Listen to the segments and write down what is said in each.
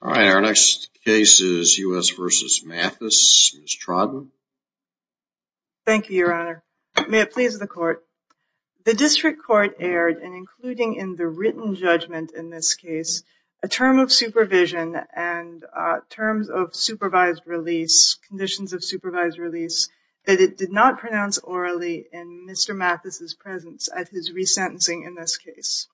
All right, our next case is U.S. v. Mathis. Ms. Trodden. Thank you, your honor. May it please the court. The district court aired, and including in the written judgment in this case, a term of supervision and terms of supervised release, conditions of supervised release, that it did not pronounce orally in Mr. Mathis' presence at his resentencing in this case.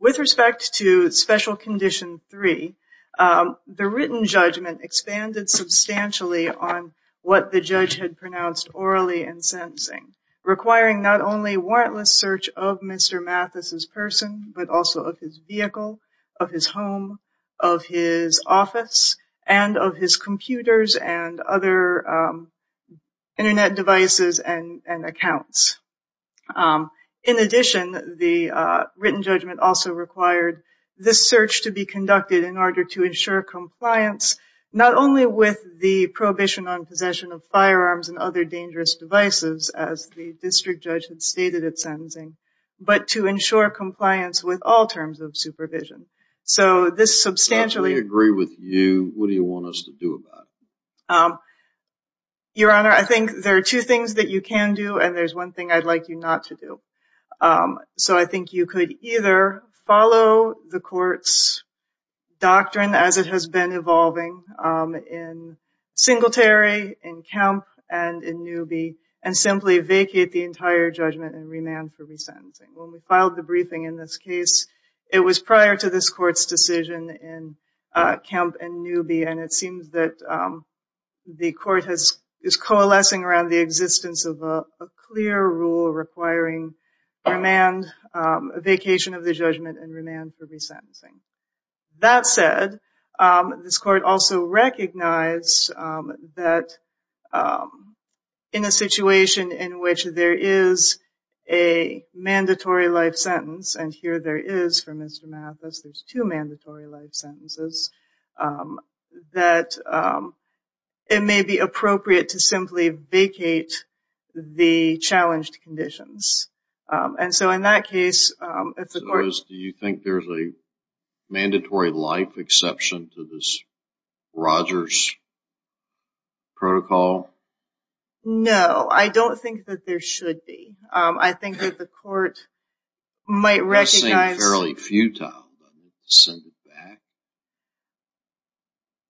With respect to Special Condition 3, the written judgment expanded substantially on what the judge had pronounced orally in sentencing, requiring not only warrantless search of Mr. Mathis' person, but also of his vehicle, of his home, of his office, and of his computers and other Internet devices and accounts. In addition, the written judgment also required this search to be conducted in order to ensure compliance, not only with the prohibition on possession of firearms and other dangerous devices, as the district judge had stated at sentencing, but to ensure compliance with all terms of supervision. So this substantially... If we agree with you, what do you want us to do about it? Your honor, I think there are two things that you can do, and there's one thing I'd like you not to do. So I think you could either follow the court's doctrine as it has been evolving in Singletary, in Kemp, and in Newby, and simply vacate the entire judgment and remand for resentencing. When we filed the briefing in this case, it was prior to this court's decision in Kemp and Newby, and it seems that the court is coalescing around the existence of a clear rule requiring a vacation of the judgment and remand for resentencing. That said, this court also recognized that in a situation in which there is a mandatory life sentence, and here there is for Mr. Mathis, there's two mandatory life sentences, that it may be appropriate to simply vacate the challenged conditions. And so in that case, if the court... So do you think there's a mandatory life exception to this Rogers protocol? No, I don't think that there should be. I think that the court might recognize...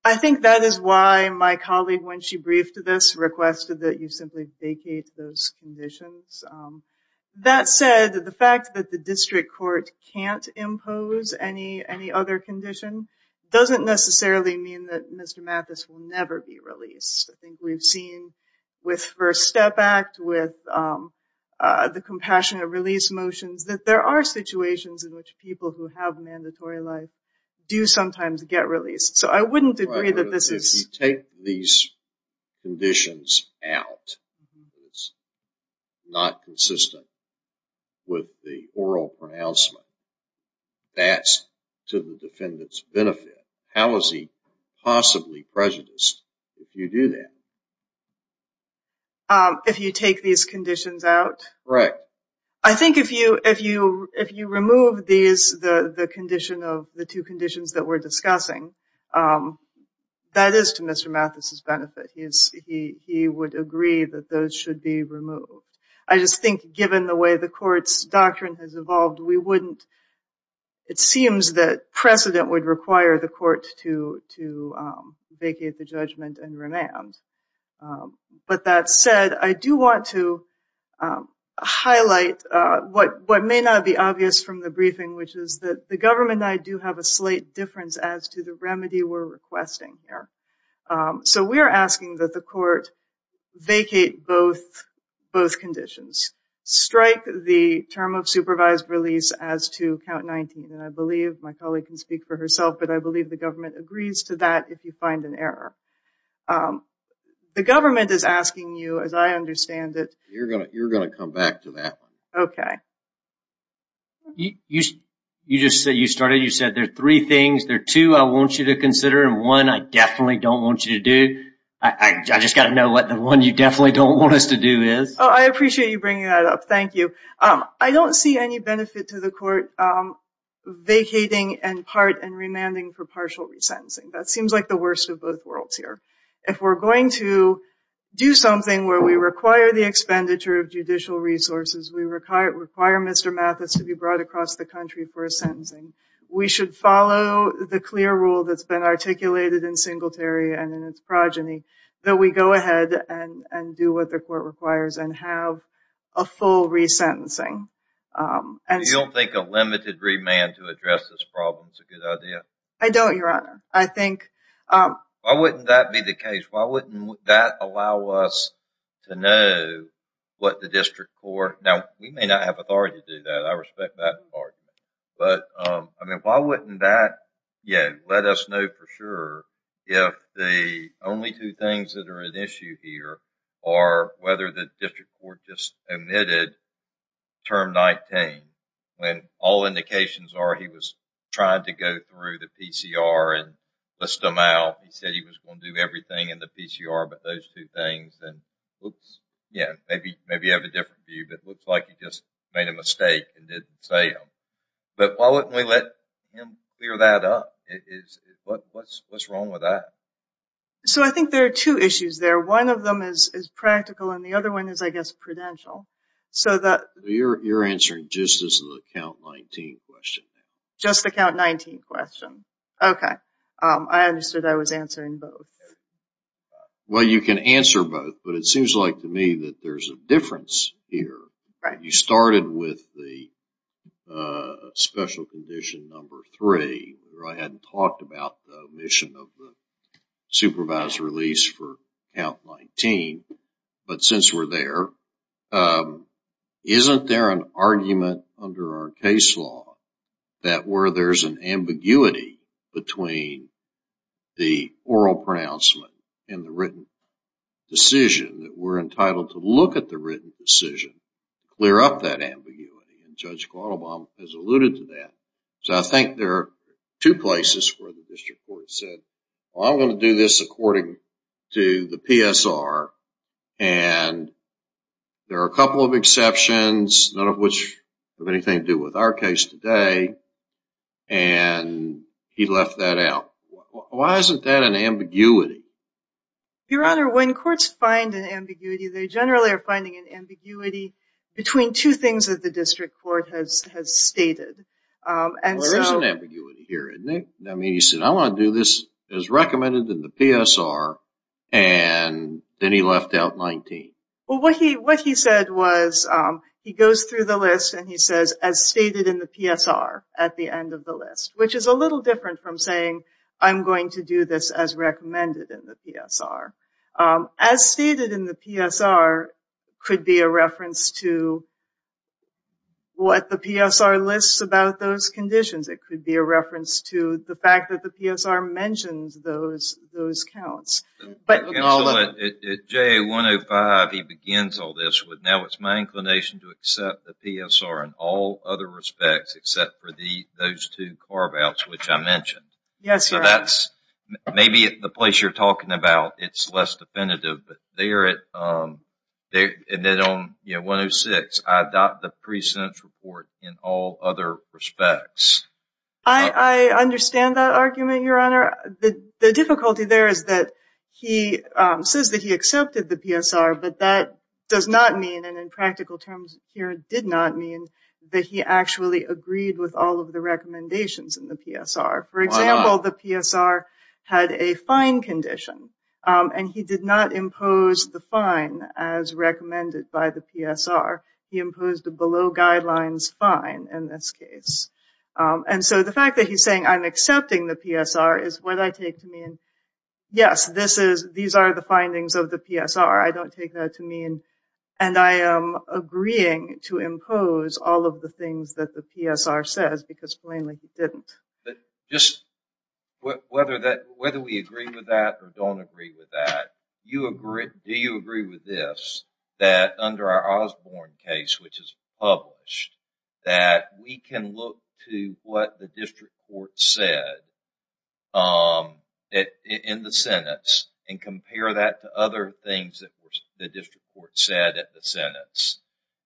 I think that is why my colleague, when she briefed this, requested that you simply vacate those conditions. That said, the fact that the district court can't impose any other condition doesn't necessarily mean that Mr. Mathis will never be released. I think we've seen with First Step Act, with the Compassionate Release motions, that there are situations in which people who have mandatory life do sometimes get released. So I wouldn't agree that this is... If you take these conditions out, it's not consistent with the oral pronouncement, that's to the defendant's benefit. How is he possibly prejudiced if you do that? If you take these conditions out? Right. I think if you remove the two conditions that we're discussing, that is to Mr. Mathis' benefit. He would agree that those should be removed. I just think given the way the court's doctrine has evolved, we wouldn't... It seems that precedent would require the court to vacate the judgment and remand. But that said, I do want to highlight what may not be obvious from the briefing, which is that the government and I do have a slight difference as to the remedy we're requesting here. So we're asking that the court vacate both conditions, strike the term of supervised release as to count 19, but I believe the government agrees to that if you find an error. The government is asking you, as I understand it... You're going to come back to that one. Okay. You just said there are three things. There are two I want you to consider and one I definitely don't want you to do. I just got to know what the one you definitely don't want us to do is. I appreciate you bringing that up. Thank you. I don't see any benefit to the court vacating and part and remanding for partial resentencing. That seems like the worst of both worlds here. If we're going to do something where we require the expenditure of judicial resources, we require Mr. Mathis to be brought across the country for a sentencing, we should follow the clear rule that's been articulated in Singletary and in its progeny that we go ahead and do what the court requires and have a full resentencing. You don't think a limited remand to address this problem is a good idea? I don't, Your Honor. Why wouldn't that be the case? Why wouldn't that allow us to know what the district court... Now, we may not have authority to do that. I respect that argument. Why wouldn't that let us know for sure if the only two things that are at issue here are whether the district court just omitted Term 19 when all indications are he was trying to go through the PCR and list them out. He said he was going to do everything in the PCR but those two things. Maybe you have a different view. It looks like he just made a mistake and didn't say them. But why wouldn't we let him clear that up? What's wrong with that? I think there are two issues there. One of them is practical and the other one is, I guess, prudential. You're answering just the Count 19 question. Just the Count 19 question. Okay. I understood I was answering both. Well, you can answer both but it seems like to me that there's a difference here. You started with the special condition number three. I hadn't talked about the omission of the supervised release for Count 19. But since we're there, isn't there an argument under our case law that where there's an ambiguity between the oral pronouncement and the written decision that we're entitled to look at the written decision, clear up that ambiguity. And Judge Quattlebaum has alluded to that. So I think there are two places where the district court said, I'm going to do this according to the PSR. And there are a couple of exceptions, none of which have anything to do with our case today. And he left that out. Why isn't that an ambiguity? Your Honor, when courts find an ambiguity, they generally are finding an ambiguity between two things that the district court has stated. Well, there's an ambiguity here, isn't there? I mean, he said, I want to do this as recommended in the PSR. And then he left out 19. Well, what he said was he goes through the list and he says, as stated in the PSR at the end of the list, which is a little different from saying, I'm going to do this as recommended in the PSR. As stated in the PSR could be a reference to what the PSR lists about those conditions. It could be a reference to the fact that the PSR mentions those counts. At JA-105, he begins all this with, now it's my inclination to accept the PSR in all other respects, except for those two carve-outs which I mentioned. Yes, Your Honor. Maybe the place you're talking about, it's less definitive. But there at 106, I adopt the pre-sentence report in all other respects. I understand that argument, Your Honor. The difficulty there is that he says that he accepted the PSR, but that does not mean, and in practical terms here, did not mean that he actually agreed with all of the recommendations in the PSR. For example, the PSR had a fine condition, and he did not impose the fine as recommended by the PSR. He imposed a below guidelines fine in this case. The fact that he's saying I'm accepting the PSR is what I take to mean, yes, these are the findings of the PSR. I don't take that to mean, and I am agreeing to impose all of the things that the PSR says, because plainly he didn't. Whether we agree with that or don't agree with that, do you agree with this, that under our Osborne case, which is published, that we can look to what the district court said in the sentence and compare that to other things that the district court said at the sentence,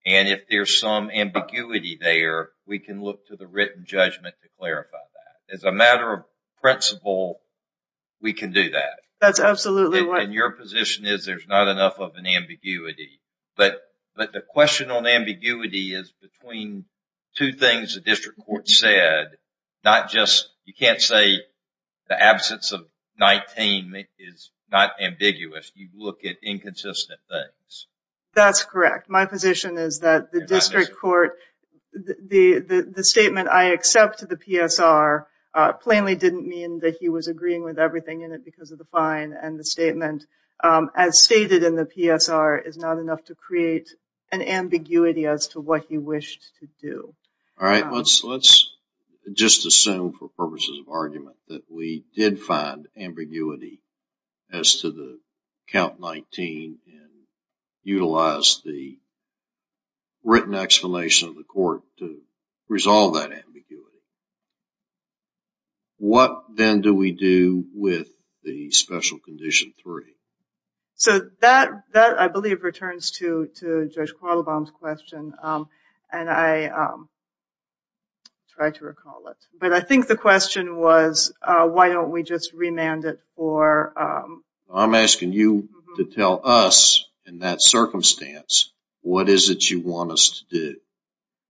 and if there's some ambiguity there, we can look to the written judgment to clarify that. As a matter of principle, we can do that. That's absolutely right. Your position is there's not enough of an ambiguity, but the question on ambiguity is between two things the district court said, not just, you can't say the absence of 19 is not ambiguous, you look at inconsistent things. That's correct. My position is that the district court, the statement I accept to the PSR plainly didn't mean that he was agreeing with everything in it because of the fine, and the statement, as stated in the PSR, is not enough to create an ambiguity as to what he wished to do. All right, let's just assume for purposes of argument that we did find ambiguity as to the count 19 and utilized the written explanation of the court to resolve that ambiguity. What, then, do we do with the special condition three? So that, I believe, returns to Judge Quattlebaum's question, and I tried to recall it, but I think the question was why don't we just remand it for... I'm asking you to tell us in that circumstance what is it you want us to do.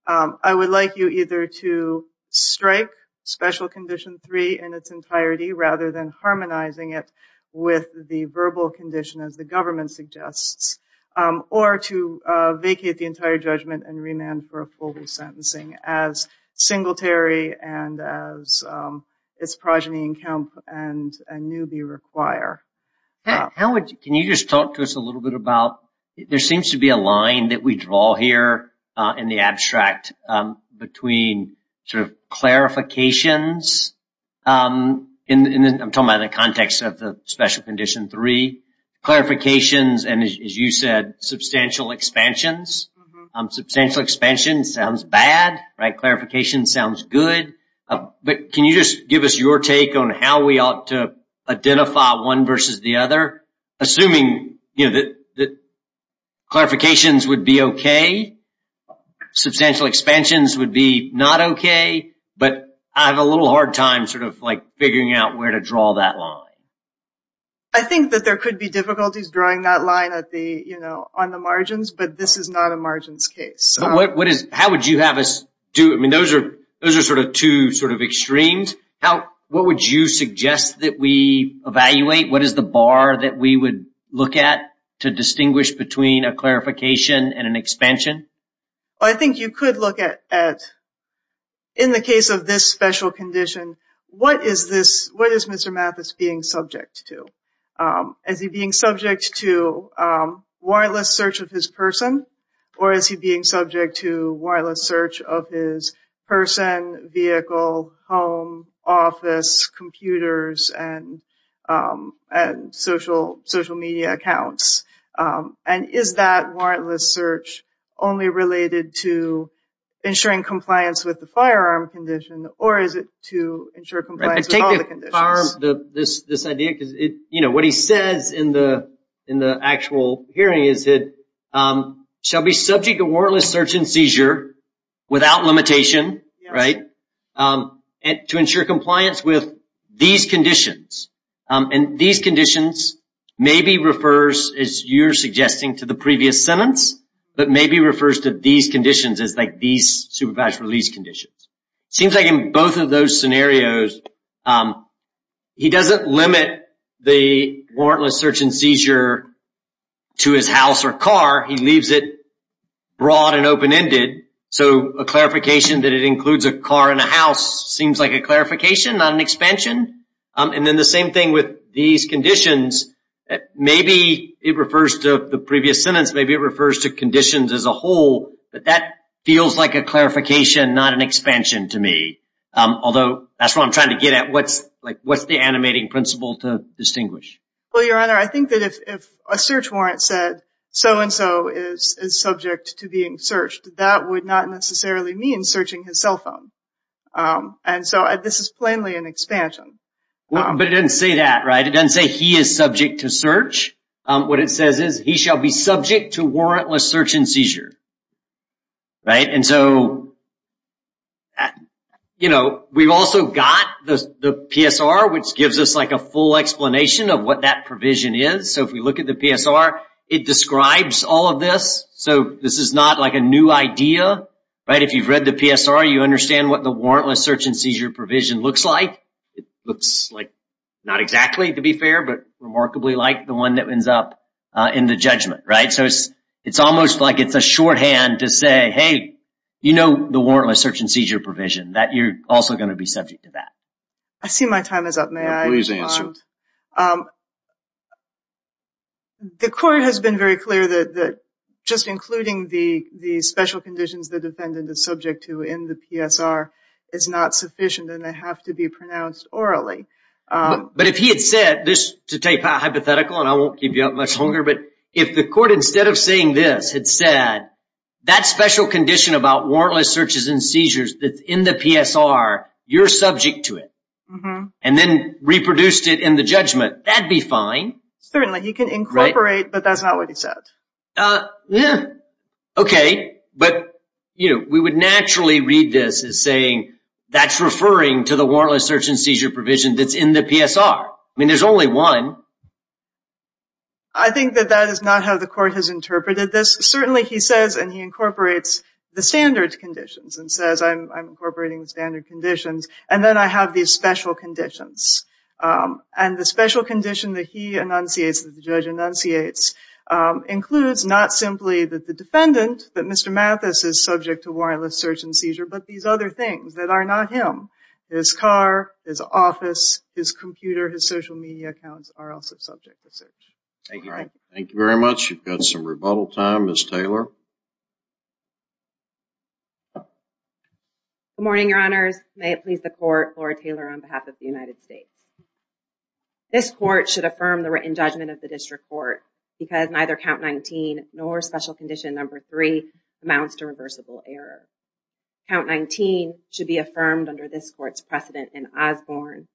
I would like you either to strike special condition three in its entirety rather than harmonizing it with the verbal condition, as the government suggests, or to vacate the entire judgment and remand for a full sentencing as Singletary and as its progeny in Kemp and Newby require. Can you just talk to us a little bit about, there seems to be a line that we draw here in the abstract between sort of clarifications, and I'm talking about in the context of the special condition three, clarifications and, as you said, substantial expansions. Substantial expansion sounds bad, right? Clarification sounds good, but can you just give us your take on how we ought to identify one versus the other, assuming that clarifications would be okay, substantial expansions would be not okay, but I have a little hard time sort of like figuring out where to draw that line. I think that there could be difficulties drawing that line on the margins, but this is not a margins case. How would you have us do it? I mean, those are sort of two sort of extremes. What would you suggest that we evaluate? What is the bar that we would look at to distinguish between a clarification and an expansion? I think you could look at, in the case of this special condition, what is Mr. Mathis being subject to? Is he being subject to wireless search of his person, or is he being subject to wireless search of his person, vehicle, home, office, computers, and social media accounts? And is that wireless search only related to ensuring compliance with the firearm condition, or is it to ensure compliance with all the conditions? Take the firearm, this idea, because what he says in the actual hearing is that, shall be subject to wireless search and seizure without limitation, right, to ensure compliance with these conditions. And these conditions maybe refers, as you're suggesting, to the previous sentence, but maybe refers to these conditions as like these supervised release conditions. It seems like in both of those scenarios, he doesn't limit the wireless search and seizure to his house or car. He leaves it broad and open-ended. So a clarification that it includes a car and a house seems like a clarification, not an expansion. And then the same thing with these conditions, maybe it refers to the previous sentence, maybe it refers to conditions as a whole, but that feels like a clarification, not an expansion to me. Although that's what I'm trying to get at. What's the animating principle to distinguish? Well, Your Honor, I think that if a search warrant said, so-and-so is subject to being searched, that would not necessarily mean searching his cell phone. And so this is plainly an expansion. But it doesn't say that, right? It doesn't say he is subject to search. What it says is he shall be subject to warrantless search and seizure. Right? And so, you know, we've also got the PSR, which gives us like a full explanation of what that provision is. So if we look at the PSR, it describes all of this. So this is not like a new idea, right? If you've read the PSR, you understand what the warrantless search and seizure provision looks like. It looks like, not exactly to be fair, but remarkably like the one that ends up in the judgment, right? So it's almost like it's a shorthand to say, hey, you know the warrantless search and seizure provision, that you're also going to be subject to that. I see my time is up. May I? Please answer. I don't. The court has been very clear that just including the special conditions the defendant is subject to in the PSR is not sufficient and they have to be pronounced orally. But if he had said this, to take hypothetical, and I won't keep you up much longer, but if the court, instead of saying this, had said that special condition about warrantless searches and seizures that's in the PSR, you're subject to it, and then reproduced it in the judgment, that'd be fine. Certainly. He can incorporate, but that's not what he said. Okay. But we would naturally read this as saying that's referring to the warrantless search and seizure provision that's in the PSR. I mean, there's only one. I think that that is not how the court has interpreted this. Certainly he says and he incorporates the standard conditions and says I'm incorporating the standard conditions and then I have these special conditions. And the special condition that he enunciates, that the judge enunciates, includes not simply that the defendant, that Mr. Mathis, is subject to warrantless search and seizure, but these other things that are not him. His car, his office, his computer, his social media accounts are also subject to search. Thank you. Thank you very much. We've got some rebuttal time. Ms. Taylor. Good morning, Your Honors. May it please the court, Laura Taylor on behalf of the United States. This court should affirm the written judgment of the district court because neither count 19 nor special condition number 3 amounts to reversible error. Count 19 should be affirmed under this court's precedent in Osborne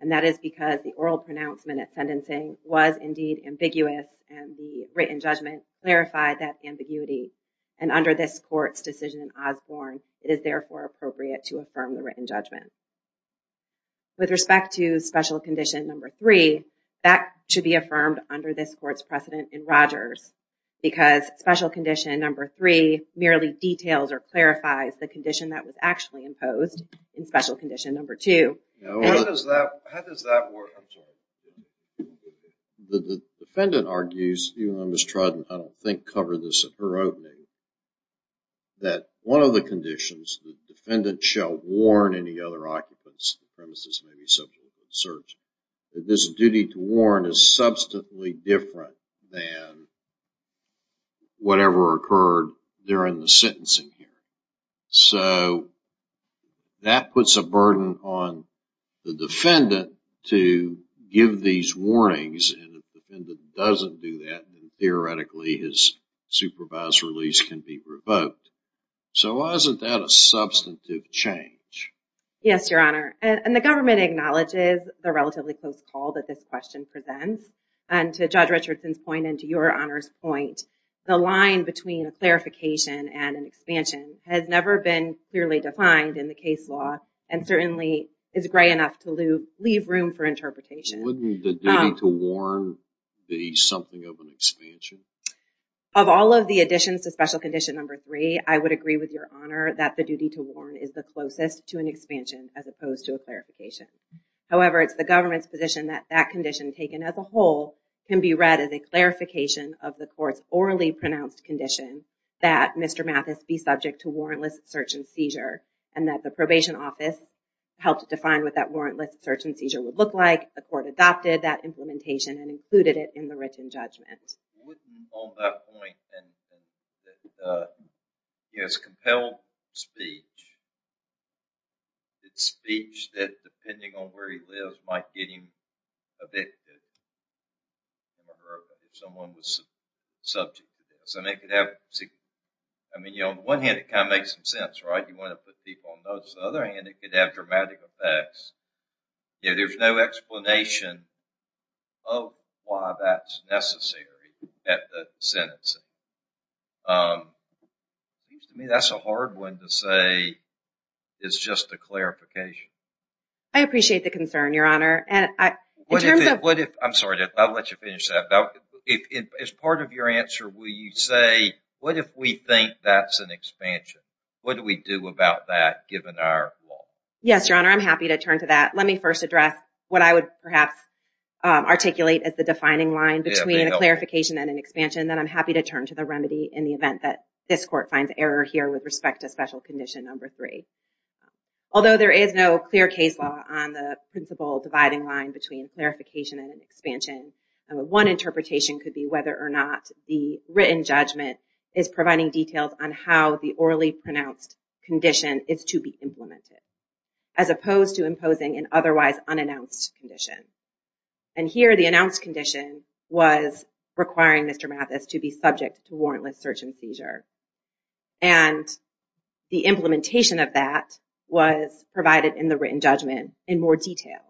and that is because the oral pronouncement at sentencing was indeed ambiguous and the written judgment clarified that ambiguity. And under this court's decision in Osborne, it is therefore appropriate to affirm the written judgment. With respect to special condition number 3, that should be affirmed under this court's precedent in Rogers because special condition number 3 merely details or clarifies the condition that was actually imposed in special condition number 2. How does that work? The defendant argues, even though Ms. Trodden, I don't think, covered this at her opening, that one of the conditions, the defendant shall warn any other occupants the premises may be subject to search, that this duty to warn is substantially different than whatever occurred during the sentencing hearing. So, that puts a burden on the defendant to give these warnings and if the defendant doesn't do that, then theoretically his supervised release can be revoked. So, why isn't that a substantive change? Yes, Your Honor. And the government acknowledges the relatively close call that this question presents and to Judge Richardson's point and to Your Honor's point, the line between a clarification and an expansion has never been clearly defined in the case law and certainly is gray enough to leave room for interpretation. Wouldn't the duty to warn be something of an expansion? Of all of the additions to special condition number 3, I would agree with Your Honor that the duty to warn is the closest to an expansion as opposed to a clarification. However, it's the government's position that that condition taken as a whole can be read as a clarification of the court's orally pronounced condition that Mr. Mathis be subject to warrantless search and seizure and that the probation office helped define what that warrantless search and seizure would look like the court adopted that implementation and included it in the written judgment. On that point, it's compelled speech. It's speech that, depending on where he lives, might get him evicted. Someone was subject to this. I mean, on the one hand, it kind of makes some sense, right? You want to put people on notice. On the other hand, it could have dramatic effects. There's no explanation of why that's necessary at the sentencing. That's a hard one to say. It's just a clarification. I appreciate the concern, Your Honor. I'm sorry. I'll let you finish that. As part of your answer, will you say, what if we think that's an expansion? What do we do about that given our law? Yes, Your Honor, I'm happy to turn to that. Let me first address what I would perhaps articulate as the defining line between a clarification and an expansion that I'm happy to turn to the remedy in the event that this court finds error here with respect to special condition number three. Although there is no clear case law on the principle dividing line between clarification and expansion, one interpretation could be whether or not the written judgment is providing details on how the orally pronounced condition is to be implemented, as opposed to imposing an otherwise unannounced condition. And here, the announced condition was requiring Mr. Mathis to be subject to warrantless search and seizure. And the implementation of that was provided in the written judgment in more detail,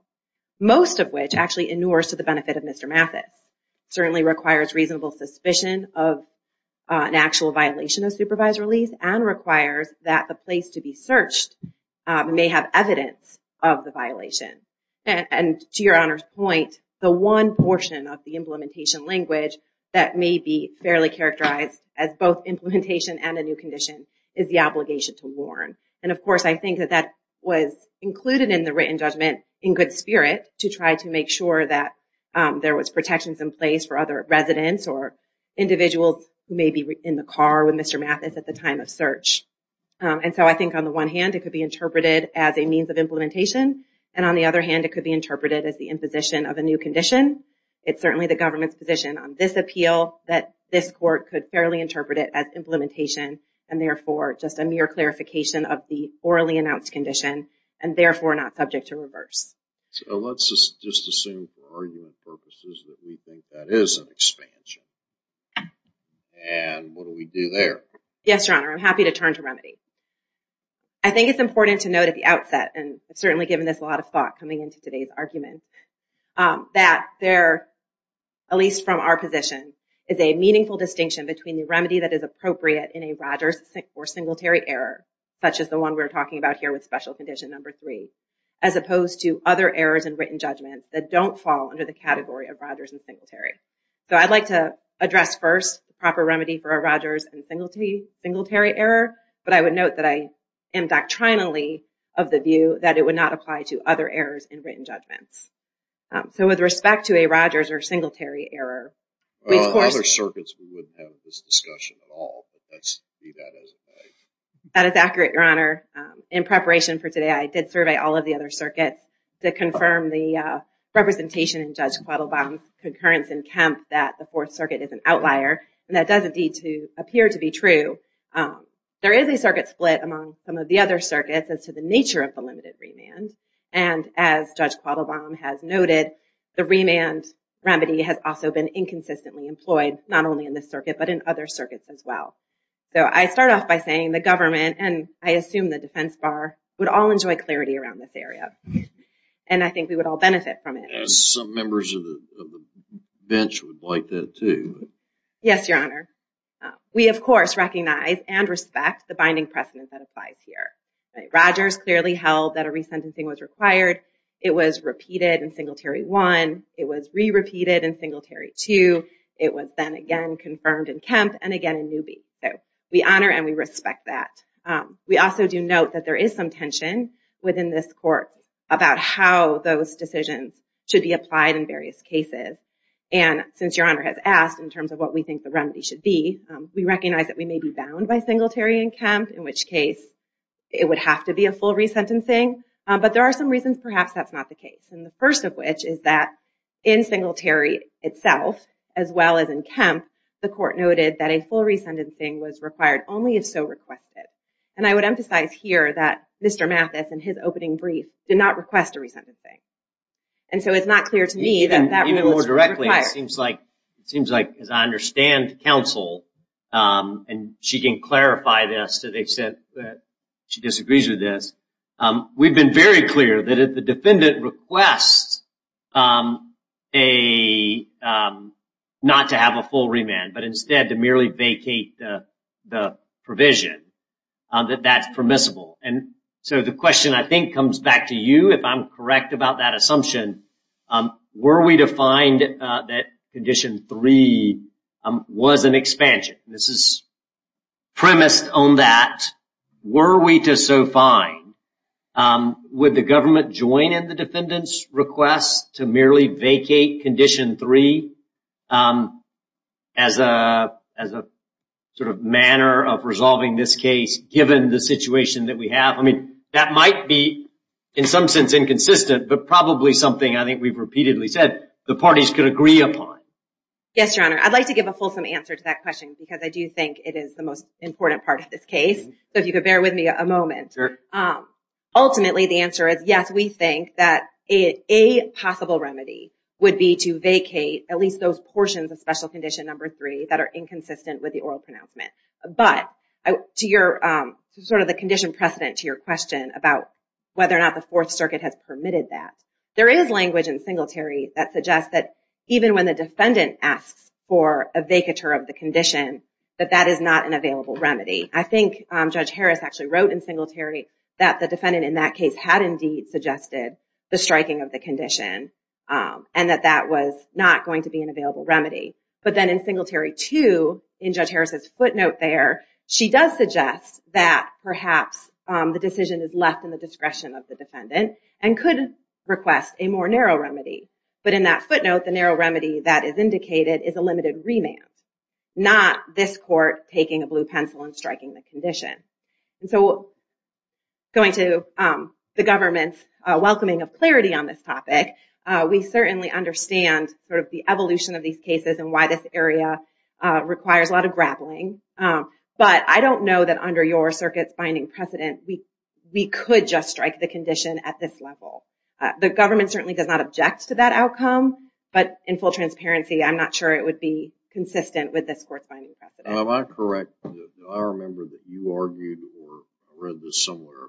most of which actually inures to the benefit of Mr. Mathis, certainly requires reasonable suspicion of an actual violation of supervised release, and requires that the place to be searched may have evidence of the violation. And to Your Honor's point, the one portion of the implementation language that may be fairly characterized as both implementation and a new condition is the obligation to warrant. And, of course, I think that that was included in the written judgment in good spirit to try to make sure that there was protections in place for other residents or individuals who may be in the car with Mr. Mathis at the time of search. And so I think on the one hand, it could be interpreted as a means of implementation, and on the other hand, it could be interpreted as the imposition of a new condition. It's certainly the government's position on this appeal that this court could fairly interpret it as implementation, and therefore just a mere clarification of the orally announced condition, and therefore not subject to reverse. So let's just assume for argument purposes that we think that is an expansion. And what do we do there? Yes, Your Honor, I'm happy to turn to remedy. I think it's important to note at the outset, and I've certainly given this a lot of thought coming into today's argument, that there, at least from our position, is a meaningful distinction between the remedy that is appropriate in a Rogers or Singletary error, such as the one we're talking about here with Special Condition Number 3, as opposed to other errors in written judgment that don't fall under the category of Rogers and Singletary. So I'd like to address first the proper remedy for a Rogers and Singletary error, but I would note that I am doctrinally of the view that it would not apply to other errors in written judgments. So with respect to a Rogers or Singletary error, we of course... In other circuits, we wouldn't have this discussion at all, but let's leave that as it may. That is accurate, Your Honor. In preparation for today, I did survey all of the other circuits to confirm the representation in Judge Quattlebaum's concurrence in Kemp that the Fourth Circuit is an outlier, and that does indeed appear to be true. There is a circuit split among some of the other circuits as to the nature of the limited remand, and as Judge Quattlebaum has noted, the remand remedy has also been inconsistently employed, not only in this circuit, but in other circuits as well. So I start off by saying the government, and I assume the defense bar, would all enjoy clarity around this area, and I think we would all benefit from it. Some members of the bench would like that too. Yes, Your Honor. We, of course, recognize and respect the binding precedent that applies here. Rogers clearly held that a resentencing was required. It was repeated in Singletary 1. It was re-repeated in Singletary 2. It was then again confirmed in Kemp and again in Newby. So we honor and we respect that. We also do note that there is some tension within this court about how those decisions should be applied in various cases, and since Your Honor has asked in terms of what we think the remedy should be, we recognize that we may be bound by Singletary and Kemp, in which case it would have to be a full resentencing, but there are some reasons perhaps that's not the case, and the first of which is that in Singletary itself, as well as in Kemp, the court noted that a full resentencing was required only if so requested, and I would emphasize here that Mr. Mathis, in his opening brief, did not request a resentencing. And so it's not clear to me that that rule is required. Even more directly, it seems like, as I understand the counsel, and she can clarify this to the extent that she disagrees with this, we've been very clear that if the defendant requests not to have a full remand, but instead to merely vacate the provision, that that's permissible. And so the question I think comes back to you, if I'm correct about that assumption, were we to find that Condition 3 was an expansion? This is premised on that. Were we to so find, would the government join in the defendant's request to merely vacate Condition 3 as a sort of manner of resolving this case, given the situation that we have? That might be, in some sense, inconsistent, but probably something I think we've repeatedly said the parties could agree upon. Yes, Your Honor. I'd like to give a fulsome answer to that question because I do think it is the most important part of this case. So if you could bear with me a moment. Ultimately, the answer is yes, we think that a possible remedy would be to vacate at least those portions of Special Condition 3 that are inconsistent with the oral pronouncement. But to sort of the condition precedent to your question about whether or not the Fourth Circuit has permitted that, there is language in Singletary that suggests that even when the defendant asks for a vacatur of the condition, that that is not an available remedy. I think Judge Harris actually wrote in Singletary that the defendant in that case had indeed suggested the striking of the condition and that that was not going to be an available remedy. But then in Singletary 2, in Judge Harris's footnote there, she does suggest that perhaps the decision is left in the discretion of the defendant and could request a more narrow remedy. But in that footnote, the narrow remedy that is indicated is a limited remand, not this court taking a blue pencil and striking the condition. And so going to the government's welcoming of clarity on this topic, we certainly understand sort of the evolution of these cases and why this area requires a lot of grappling. But I don't know that under your circuit's binding precedent we could just strike the condition at this level. The government certainly does not object to that outcome, but in full transparency, I'm not sure it would be consistent with this court's binding precedent. Am I correct? I remember that you argued, or I read this somewhere,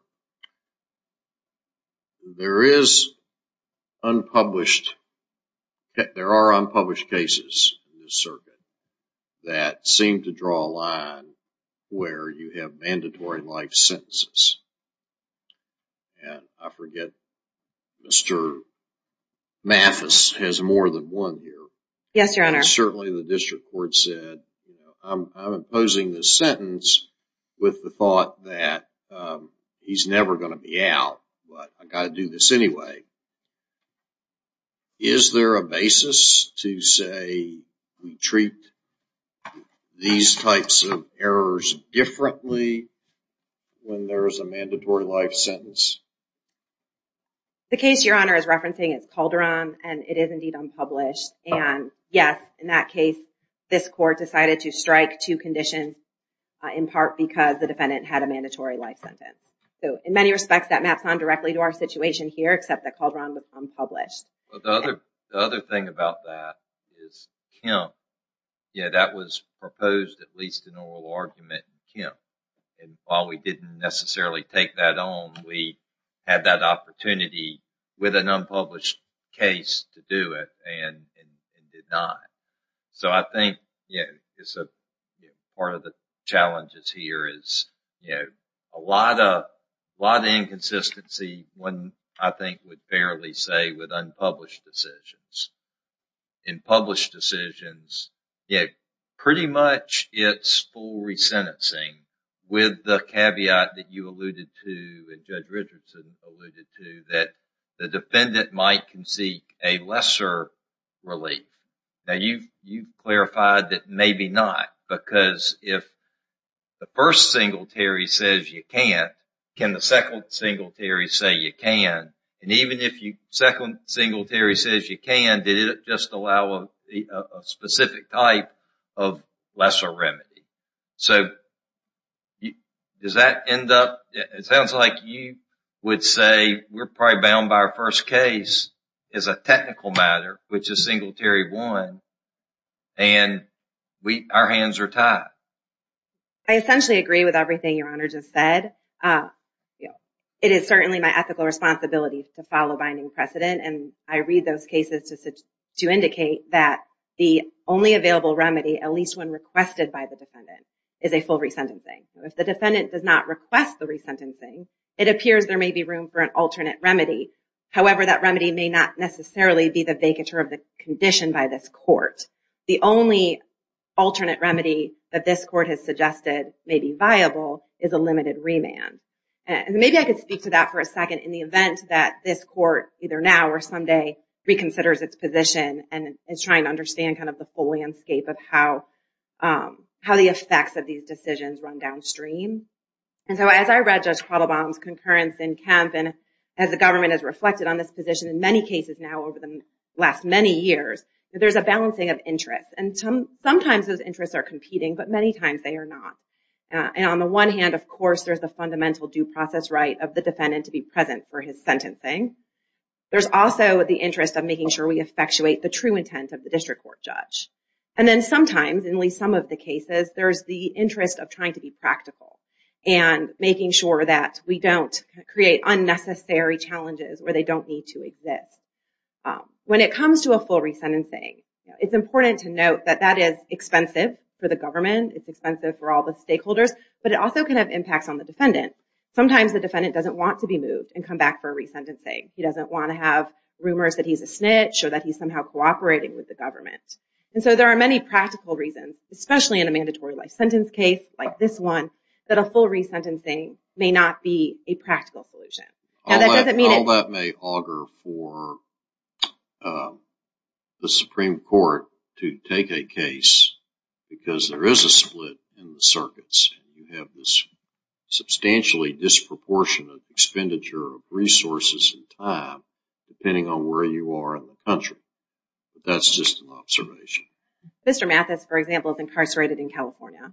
there is unpublished, there are unpublished cases in this circuit that seem to draw a line where you have mandatory life sentences. And I forget, Mr. Mathis has more than one here. Yes, Your Honor. Certainly the district court said, I'm imposing this sentence with the thought that he's never going to be out, but I've got to do this anyway. Is there a basis to say we treat these types of errors differently when there is a mandatory life sentence? The case Your Honor is referencing is Calderon, and it is indeed unpublished. And yes, in that case, this court decided to strike two conditions in part because the defendant had a mandatory life sentence. So, in many respects, that maps on directly to our situation here, except that Calderon was unpublished. The other thing about that is Kemp, that was proposed at least in oral argument in Kemp. And while we didn't necessarily take that on, we had that opportunity with an unpublished case to do it, and did not. So, I think part of the challenges here is a lot of inconsistency, one I think would fairly say with unpublished decisions. In published decisions, pretty much it's full resentencing with the caveat that you alluded to and Judge Richardson alluded to, that the defendant might concede a lesser relief. Now, you clarified that maybe not, because if the first singletary says you can't, can the second singletary say you can? And even if the second singletary says you can, did it just allow a specific type of lesser remedy? So, does that end up – it sounds like you would say we're probably bound by our first case as a technical matter, which is Singletary 1, and our hands are tied. I essentially agree with everything Your Honor just said. It is certainly my ethical responsibility to follow binding precedent, and I read those cases to indicate that the only available remedy, at least when requested by the defendant, is a full resentencing. If the defendant does not request the resentencing, it appears there may be room for an alternate remedy. However, that remedy may not necessarily be the vacatur of the condition by this court. The only alternate remedy that this court has suggested may be viable is a limited remand. And maybe I could speak to that for a second in the event that this court, either now or someday, reconsiders its position and is trying to understand kind of the full landscape of how the effects of these decisions run downstream. As the government has reflected on this position in many cases now over the last many years, there's a balancing of interests. And sometimes those interests are competing, but many times they are not. And on the one hand, of course, there's the fundamental due process right of the defendant to be present for his sentencing. There's also the interest of making sure we effectuate the true intent of the district court judge. And then sometimes, in at least some of the cases, there's the interest of trying to be practical and making sure that we don't create unnecessary challenges where they don't need to exist. When it comes to a full resentencing, it's important to note that that is expensive for the government. It's expensive for all the stakeholders, but it also can have impacts on the defendant. Sometimes the defendant doesn't want to be moved and come back for a resentencing. He doesn't want to have rumors that he's a snitch or that he's somehow cooperating with the government. And so there are many practical reasons, especially in a mandatory life sentence case like this one, that a full resentencing may not be a practical solution. All that may augur for the Supreme Court to take a case because there is a split in the circuits. You have this substantially disproportionate expenditure of resources and time depending on where you are in the country. That's just an observation. Mr. Mathis, for example, is incarcerated in California.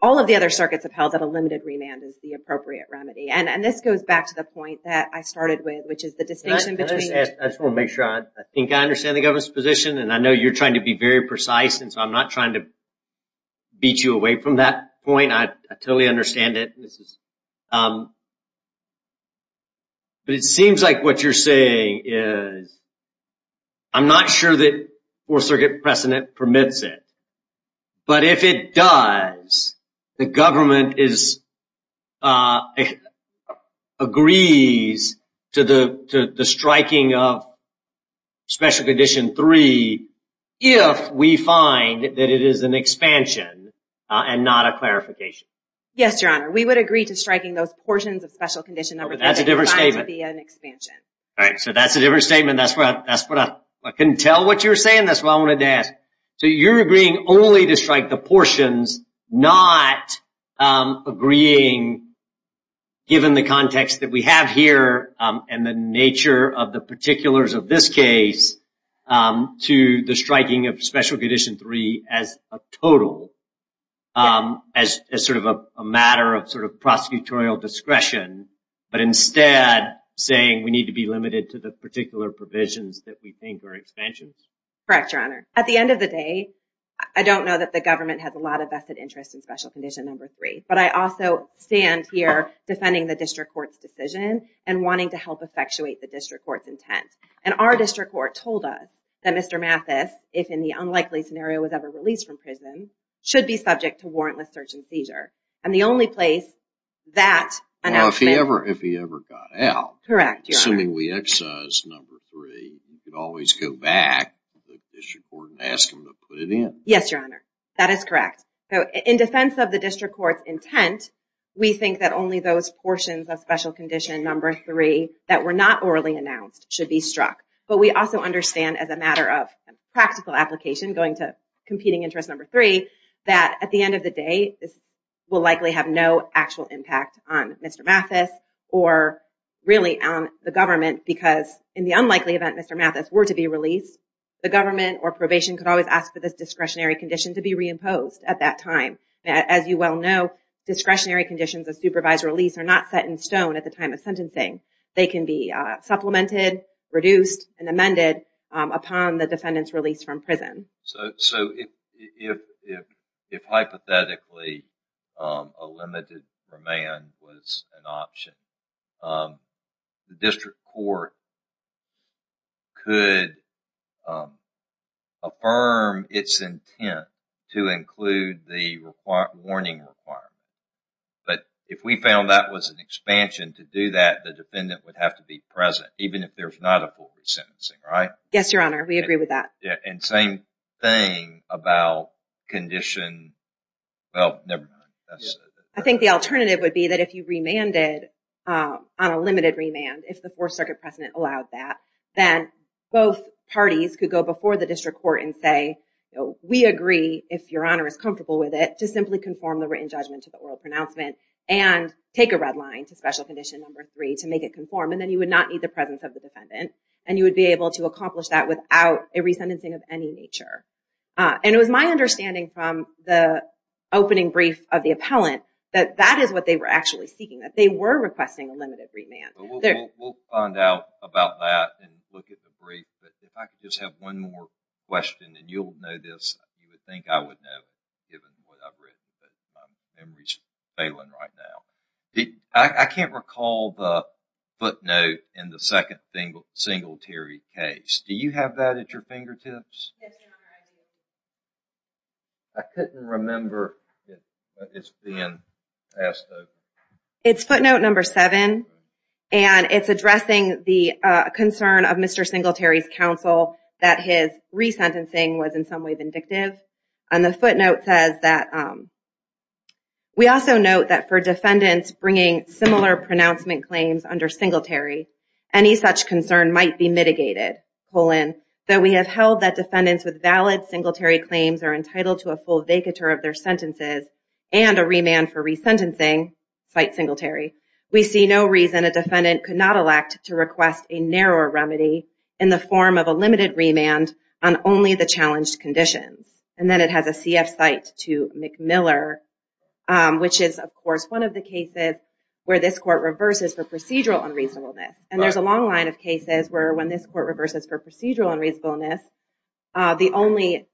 All of the other circuits have held that a limited remand is the appropriate remedy. And this goes back to the point that I started with, which is the distinction between... I just want to make sure. I think I understand the government's position, and I know you're trying to be very precise, and so I'm not trying to beat you away from that point. I totally understand it. But it seems like what you're saying is, I'm not sure that Fourth Circuit precedent permits it, but if it does, the government agrees to the striking of Special Condition 3 if we find that it is an expansion and not a clarification. Yes, Your Honor. We would agree to striking those portions of Special Condition 3 if we find it to be an expansion. All right, so that's a different statement. I couldn't tell what you were saying. That's what I wanted to ask. So you're agreeing only to strike the portions, not agreeing, given the context that we have here and the nature of the particulars of this case, to the striking of Special Condition 3 as a total, as sort of a matter of prosecutorial discretion, but instead saying we need to be limited to the particular provisions that we think are expansions? Correct, Your Honor. At the end of the day, I don't know that the government has a lot of vested interest in Special Condition 3, but I also stand here defending the district court's decision and wanting to help effectuate the district court's intent. And our district court told us that Mr. Mathis, if in the unlikely scenario was ever released from prison, should be subject to warrantless search and seizure. And the only place that... Well, if he ever got out. Correct, Your Honor. Assuming we excise Number 3, you could always go back to the district court and ask them to put it in. Yes, Your Honor. That is correct. In defense of the district court's intent, we think that only those portions of Special Condition 3 that were not orally announced should be struck. But we also understand as a matter of practical application going to competing interest Number 3 that at the end of the day, this will likely have no actual impact on Mr. Mathis or really on the government because in the unlikely event Mr. Mathis were to be released, the government or probation could always ask for this discretionary condition to be reimposed at that time. As you well know, discretionary conditions of supervised release are not set in stone at the time of sentencing. They can be supplemented, reduced, and amended upon the defendant's release from prison. So if hypothetically a limited remand was an option, the district court could affirm its intent to include the warning requirement. But if we found that was an expansion, to do that the defendant would have to be present even if there's not a forward sentencing, right? Yes, Your Honor. We agree with that. And same thing about condition... Well, never mind. I think the alternative would be that if you remanded on a limited remand, if the Fourth Circuit precedent allowed that, then both parties could go before the district court and say, we agree, if Your Honor is comfortable with it, to simply conform the written judgment to the oral pronouncement and take a red line to special condition number three to make it conform, and then you would not need the presence of the defendant, and you would be able to accomplish that without a resentencing of any nature. And it was my understanding from the opening brief of the appellant that that is what they were actually seeking, that they were requesting a limited remand. We'll find out about that and look at the brief, but if I could just have one more question, and you'll know this, you would think I would know, given what I've written, but my memory's failing right now. I can't recall the footnote in the second Singletary case. Do you have that at your fingertips? Yes, Your Honor, I do. I couldn't remember it. It's being passed over. It's footnote number seven, and it's addressing the concern of Mr. Singletary's counsel that his resentencing was in some way vindictive, and the footnote says that... We also note that for defendants bringing similar pronouncement claims under Singletary, any such concern might be mitigated, though we have held that defendants with valid Singletary claims are entitled to a full vacatur of their sentences and a remand for resentencing, cite Singletary, we see no reason a defendant could not elect to request a narrower remedy in the form of a limited remand on only the challenged conditions. And then it has a CF cite to McMiller, which is, of course, one of the cases where this court reverses for procedural unreasonableness. And there's a long line of cases where when this court reverses for procedural unreasonableness, the only...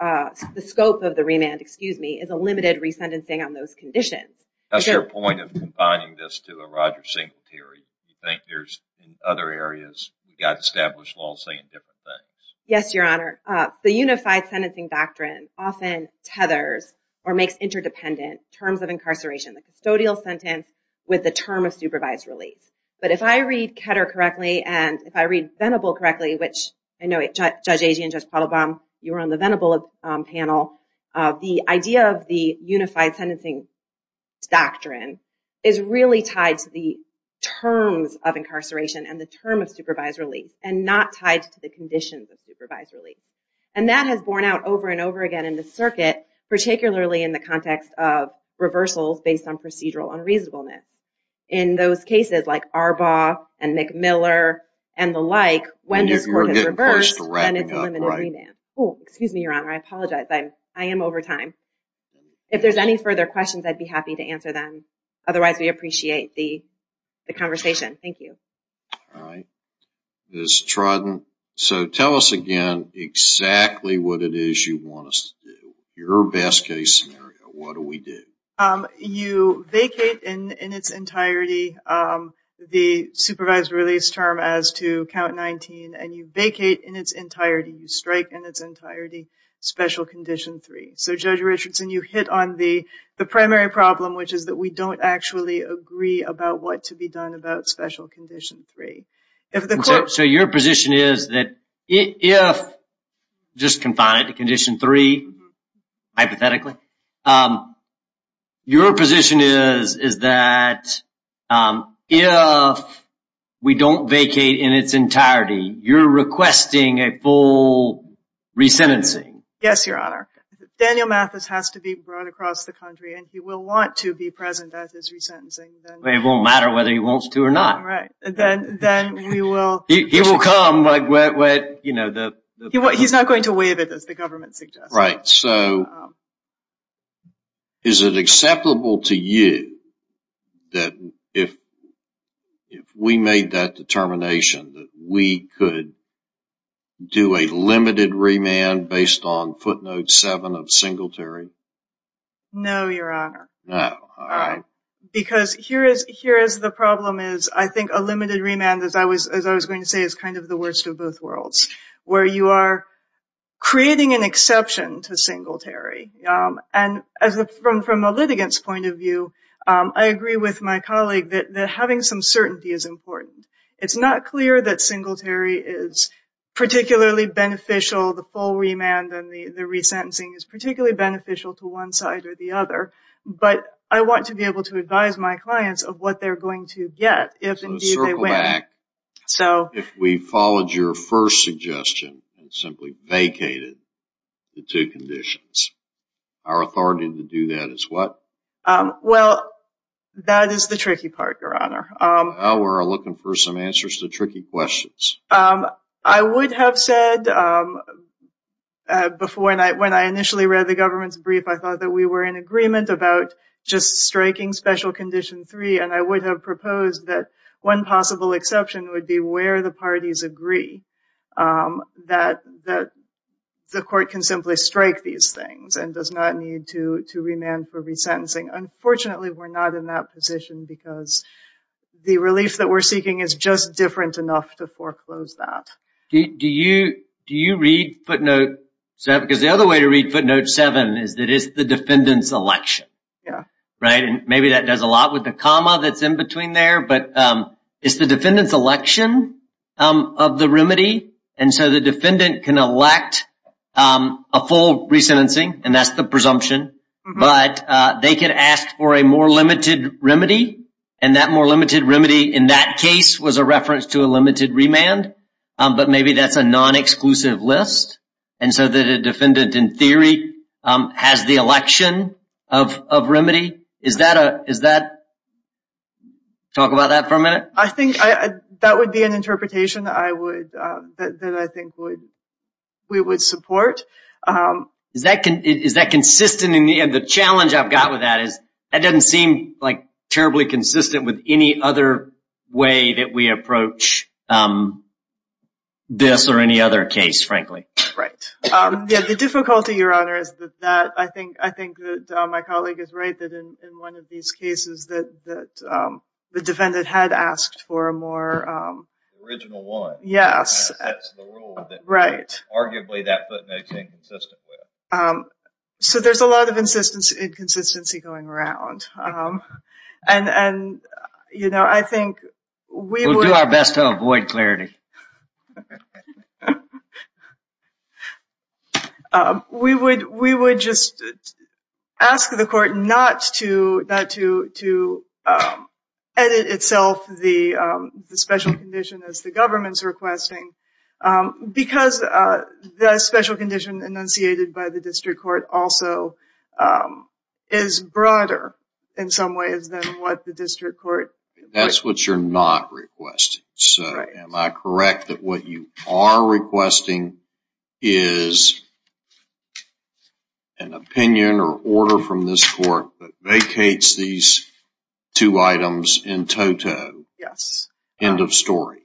the scope of the remand, excuse me, is a limited resentencing on those conditions. That's your point of combining this to a Roger Singletary. You think there's, in other areas, you've got established law saying different things. Yes, Your Honor. The Unified Sentencing Doctrine often tethers or makes interdependent terms of incarceration, the custodial sentence with the term of supervised release. But if I read Ketter correctly, and if I read Venable correctly, which I know Judge Agee and Judge Palabom, you were on the Venable panel, the idea of the Unified Sentencing Doctrine is really tied to the terms of incarceration and the term of supervised release and not tied to the conditions of supervised release. And that has borne out over and over again in the circuit, particularly in the context of reversals based on procedural unreasonableness. In those cases like Arbaugh and McMiller and the like, when this court is reversed, then it's a limited remand. Oh, excuse me, Your Honor, I apologize. I am over time. If there's any further questions, I'd be happy to answer them. Otherwise, we appreciate the conversation. Thank you. All right. Ms. Trodden, so tell us again exactly what it is you want us to do. Your best-case scenario, what do we do? You vacate in its entirety the supervised release term as to Count 19, and you vacate in its entirety, you strike in its entirety Special Condition 3. So, Judge Richardson, you hit on the primary problem, which is that we don't actually agree about what to be done about Special Condition 3. So your position is that if, just confound it, Condition 3, hypothetically, your position is that if we don't vacate in its entirety, you're requesting a full resentencing? Yes, Your Honor. Daniel Mathis has to be brought across the country, and he will want to be present at his resentencing. It won't matter whether he wants to or not. Then we will... He will come. He's not going to waive it, as the government suggests. Right. So is it acceptable to you that if we made that determination, that we could do a limited remand based on footnote 7 of Singletary? No, Your Honor. No. All right. Because here is the problem is I think a limited remand, as I was going to say, is kind of the worst of both worlds, where you are creating an exception to Singletary. And from a litigant's point of view, I agree with my colleague that having some certainty is important. It's not clear that Singletary is particularly beneficial, the full remand and the resentencing is particularly beneficial to one side or the other. But I want to be able to advise my clients of what they're going to get. So to circle back, if we followed your first suggestion and simply vacated the two conditions, our authority to do that is what? Well, that is the tricky part, Your Honor. Well, we're looking for some answers to tricky questions. I would have said before, when I initially read the government's brief, I thought that we were in agreement about just striking special condition 3, and I would have proposed that one possible exception would be where the parties agree that the court can simply strike these things and does not need to remand for resentencing. Unfortunately, we're not in that position because the relief that we're seeking is just different enough to foreclose that. Do you read footnote 7? Because the other way to read footnote 7 is that it's the defendant's election. Yeah. Right, and maybe that does a lot with the comma that's in between there, but it's the defendant's election of the remedy, and so the defendant can elect a full resentencing, and that's the presumption. But they can ask for a more limited remedy, and that more limited remedy in that case was a reference to a limited remand, but maybe that's a non-exclusive list, and so the defendant, in theory, has the election of remedy. Is that a – talk about that for a minute? I think that would be an interpretation that I would – that I think we would support. Is that consistent? The challenge I've got with that is that doesn't seem like terribly consistent with any other way that we approach this or any other case, frankly. Right. Yeah, the difficulty, Your Honor, is that I think that my colleague is right, that in one of these cases that the defendant had asked for a more – Original one. Yes. That's the rule that arguably that footnote is inconsistent with. So there's a lot of inconsistency going around. And, you know, I think we would – We'll do our best to avoid clarity. We would just ask the court not to edit itself the special condition as the government's requesting because the special condition enunciated by the district court also is broader in some ways than what the district court – That's what you're not requesting. Right. So am I correct that what you are requesting is an opinion or order from this court that vacates these two items in toto? Yes. End of story.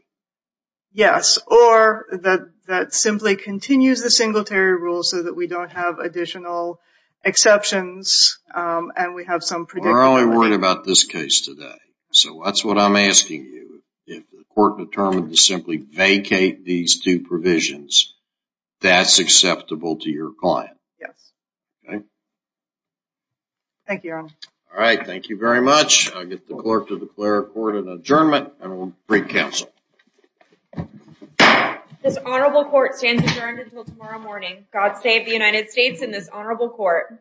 Yes. Or that simply continues the Singletary Rule so that we don't have additional exceptions and we have some predicament. We're only worried about this case today. So that's what I'm asking you. If the court determined to simply vacate these two provisions, that's acceptable to your client? Yes. Okay. Thank you, Your Honor. All right. Thank you very much. I'll get the clerk to declare the court an adjournment and we'll bring counsel. This honorable court stands adjourned until tomorrow morning. God save the United States and this honorable court.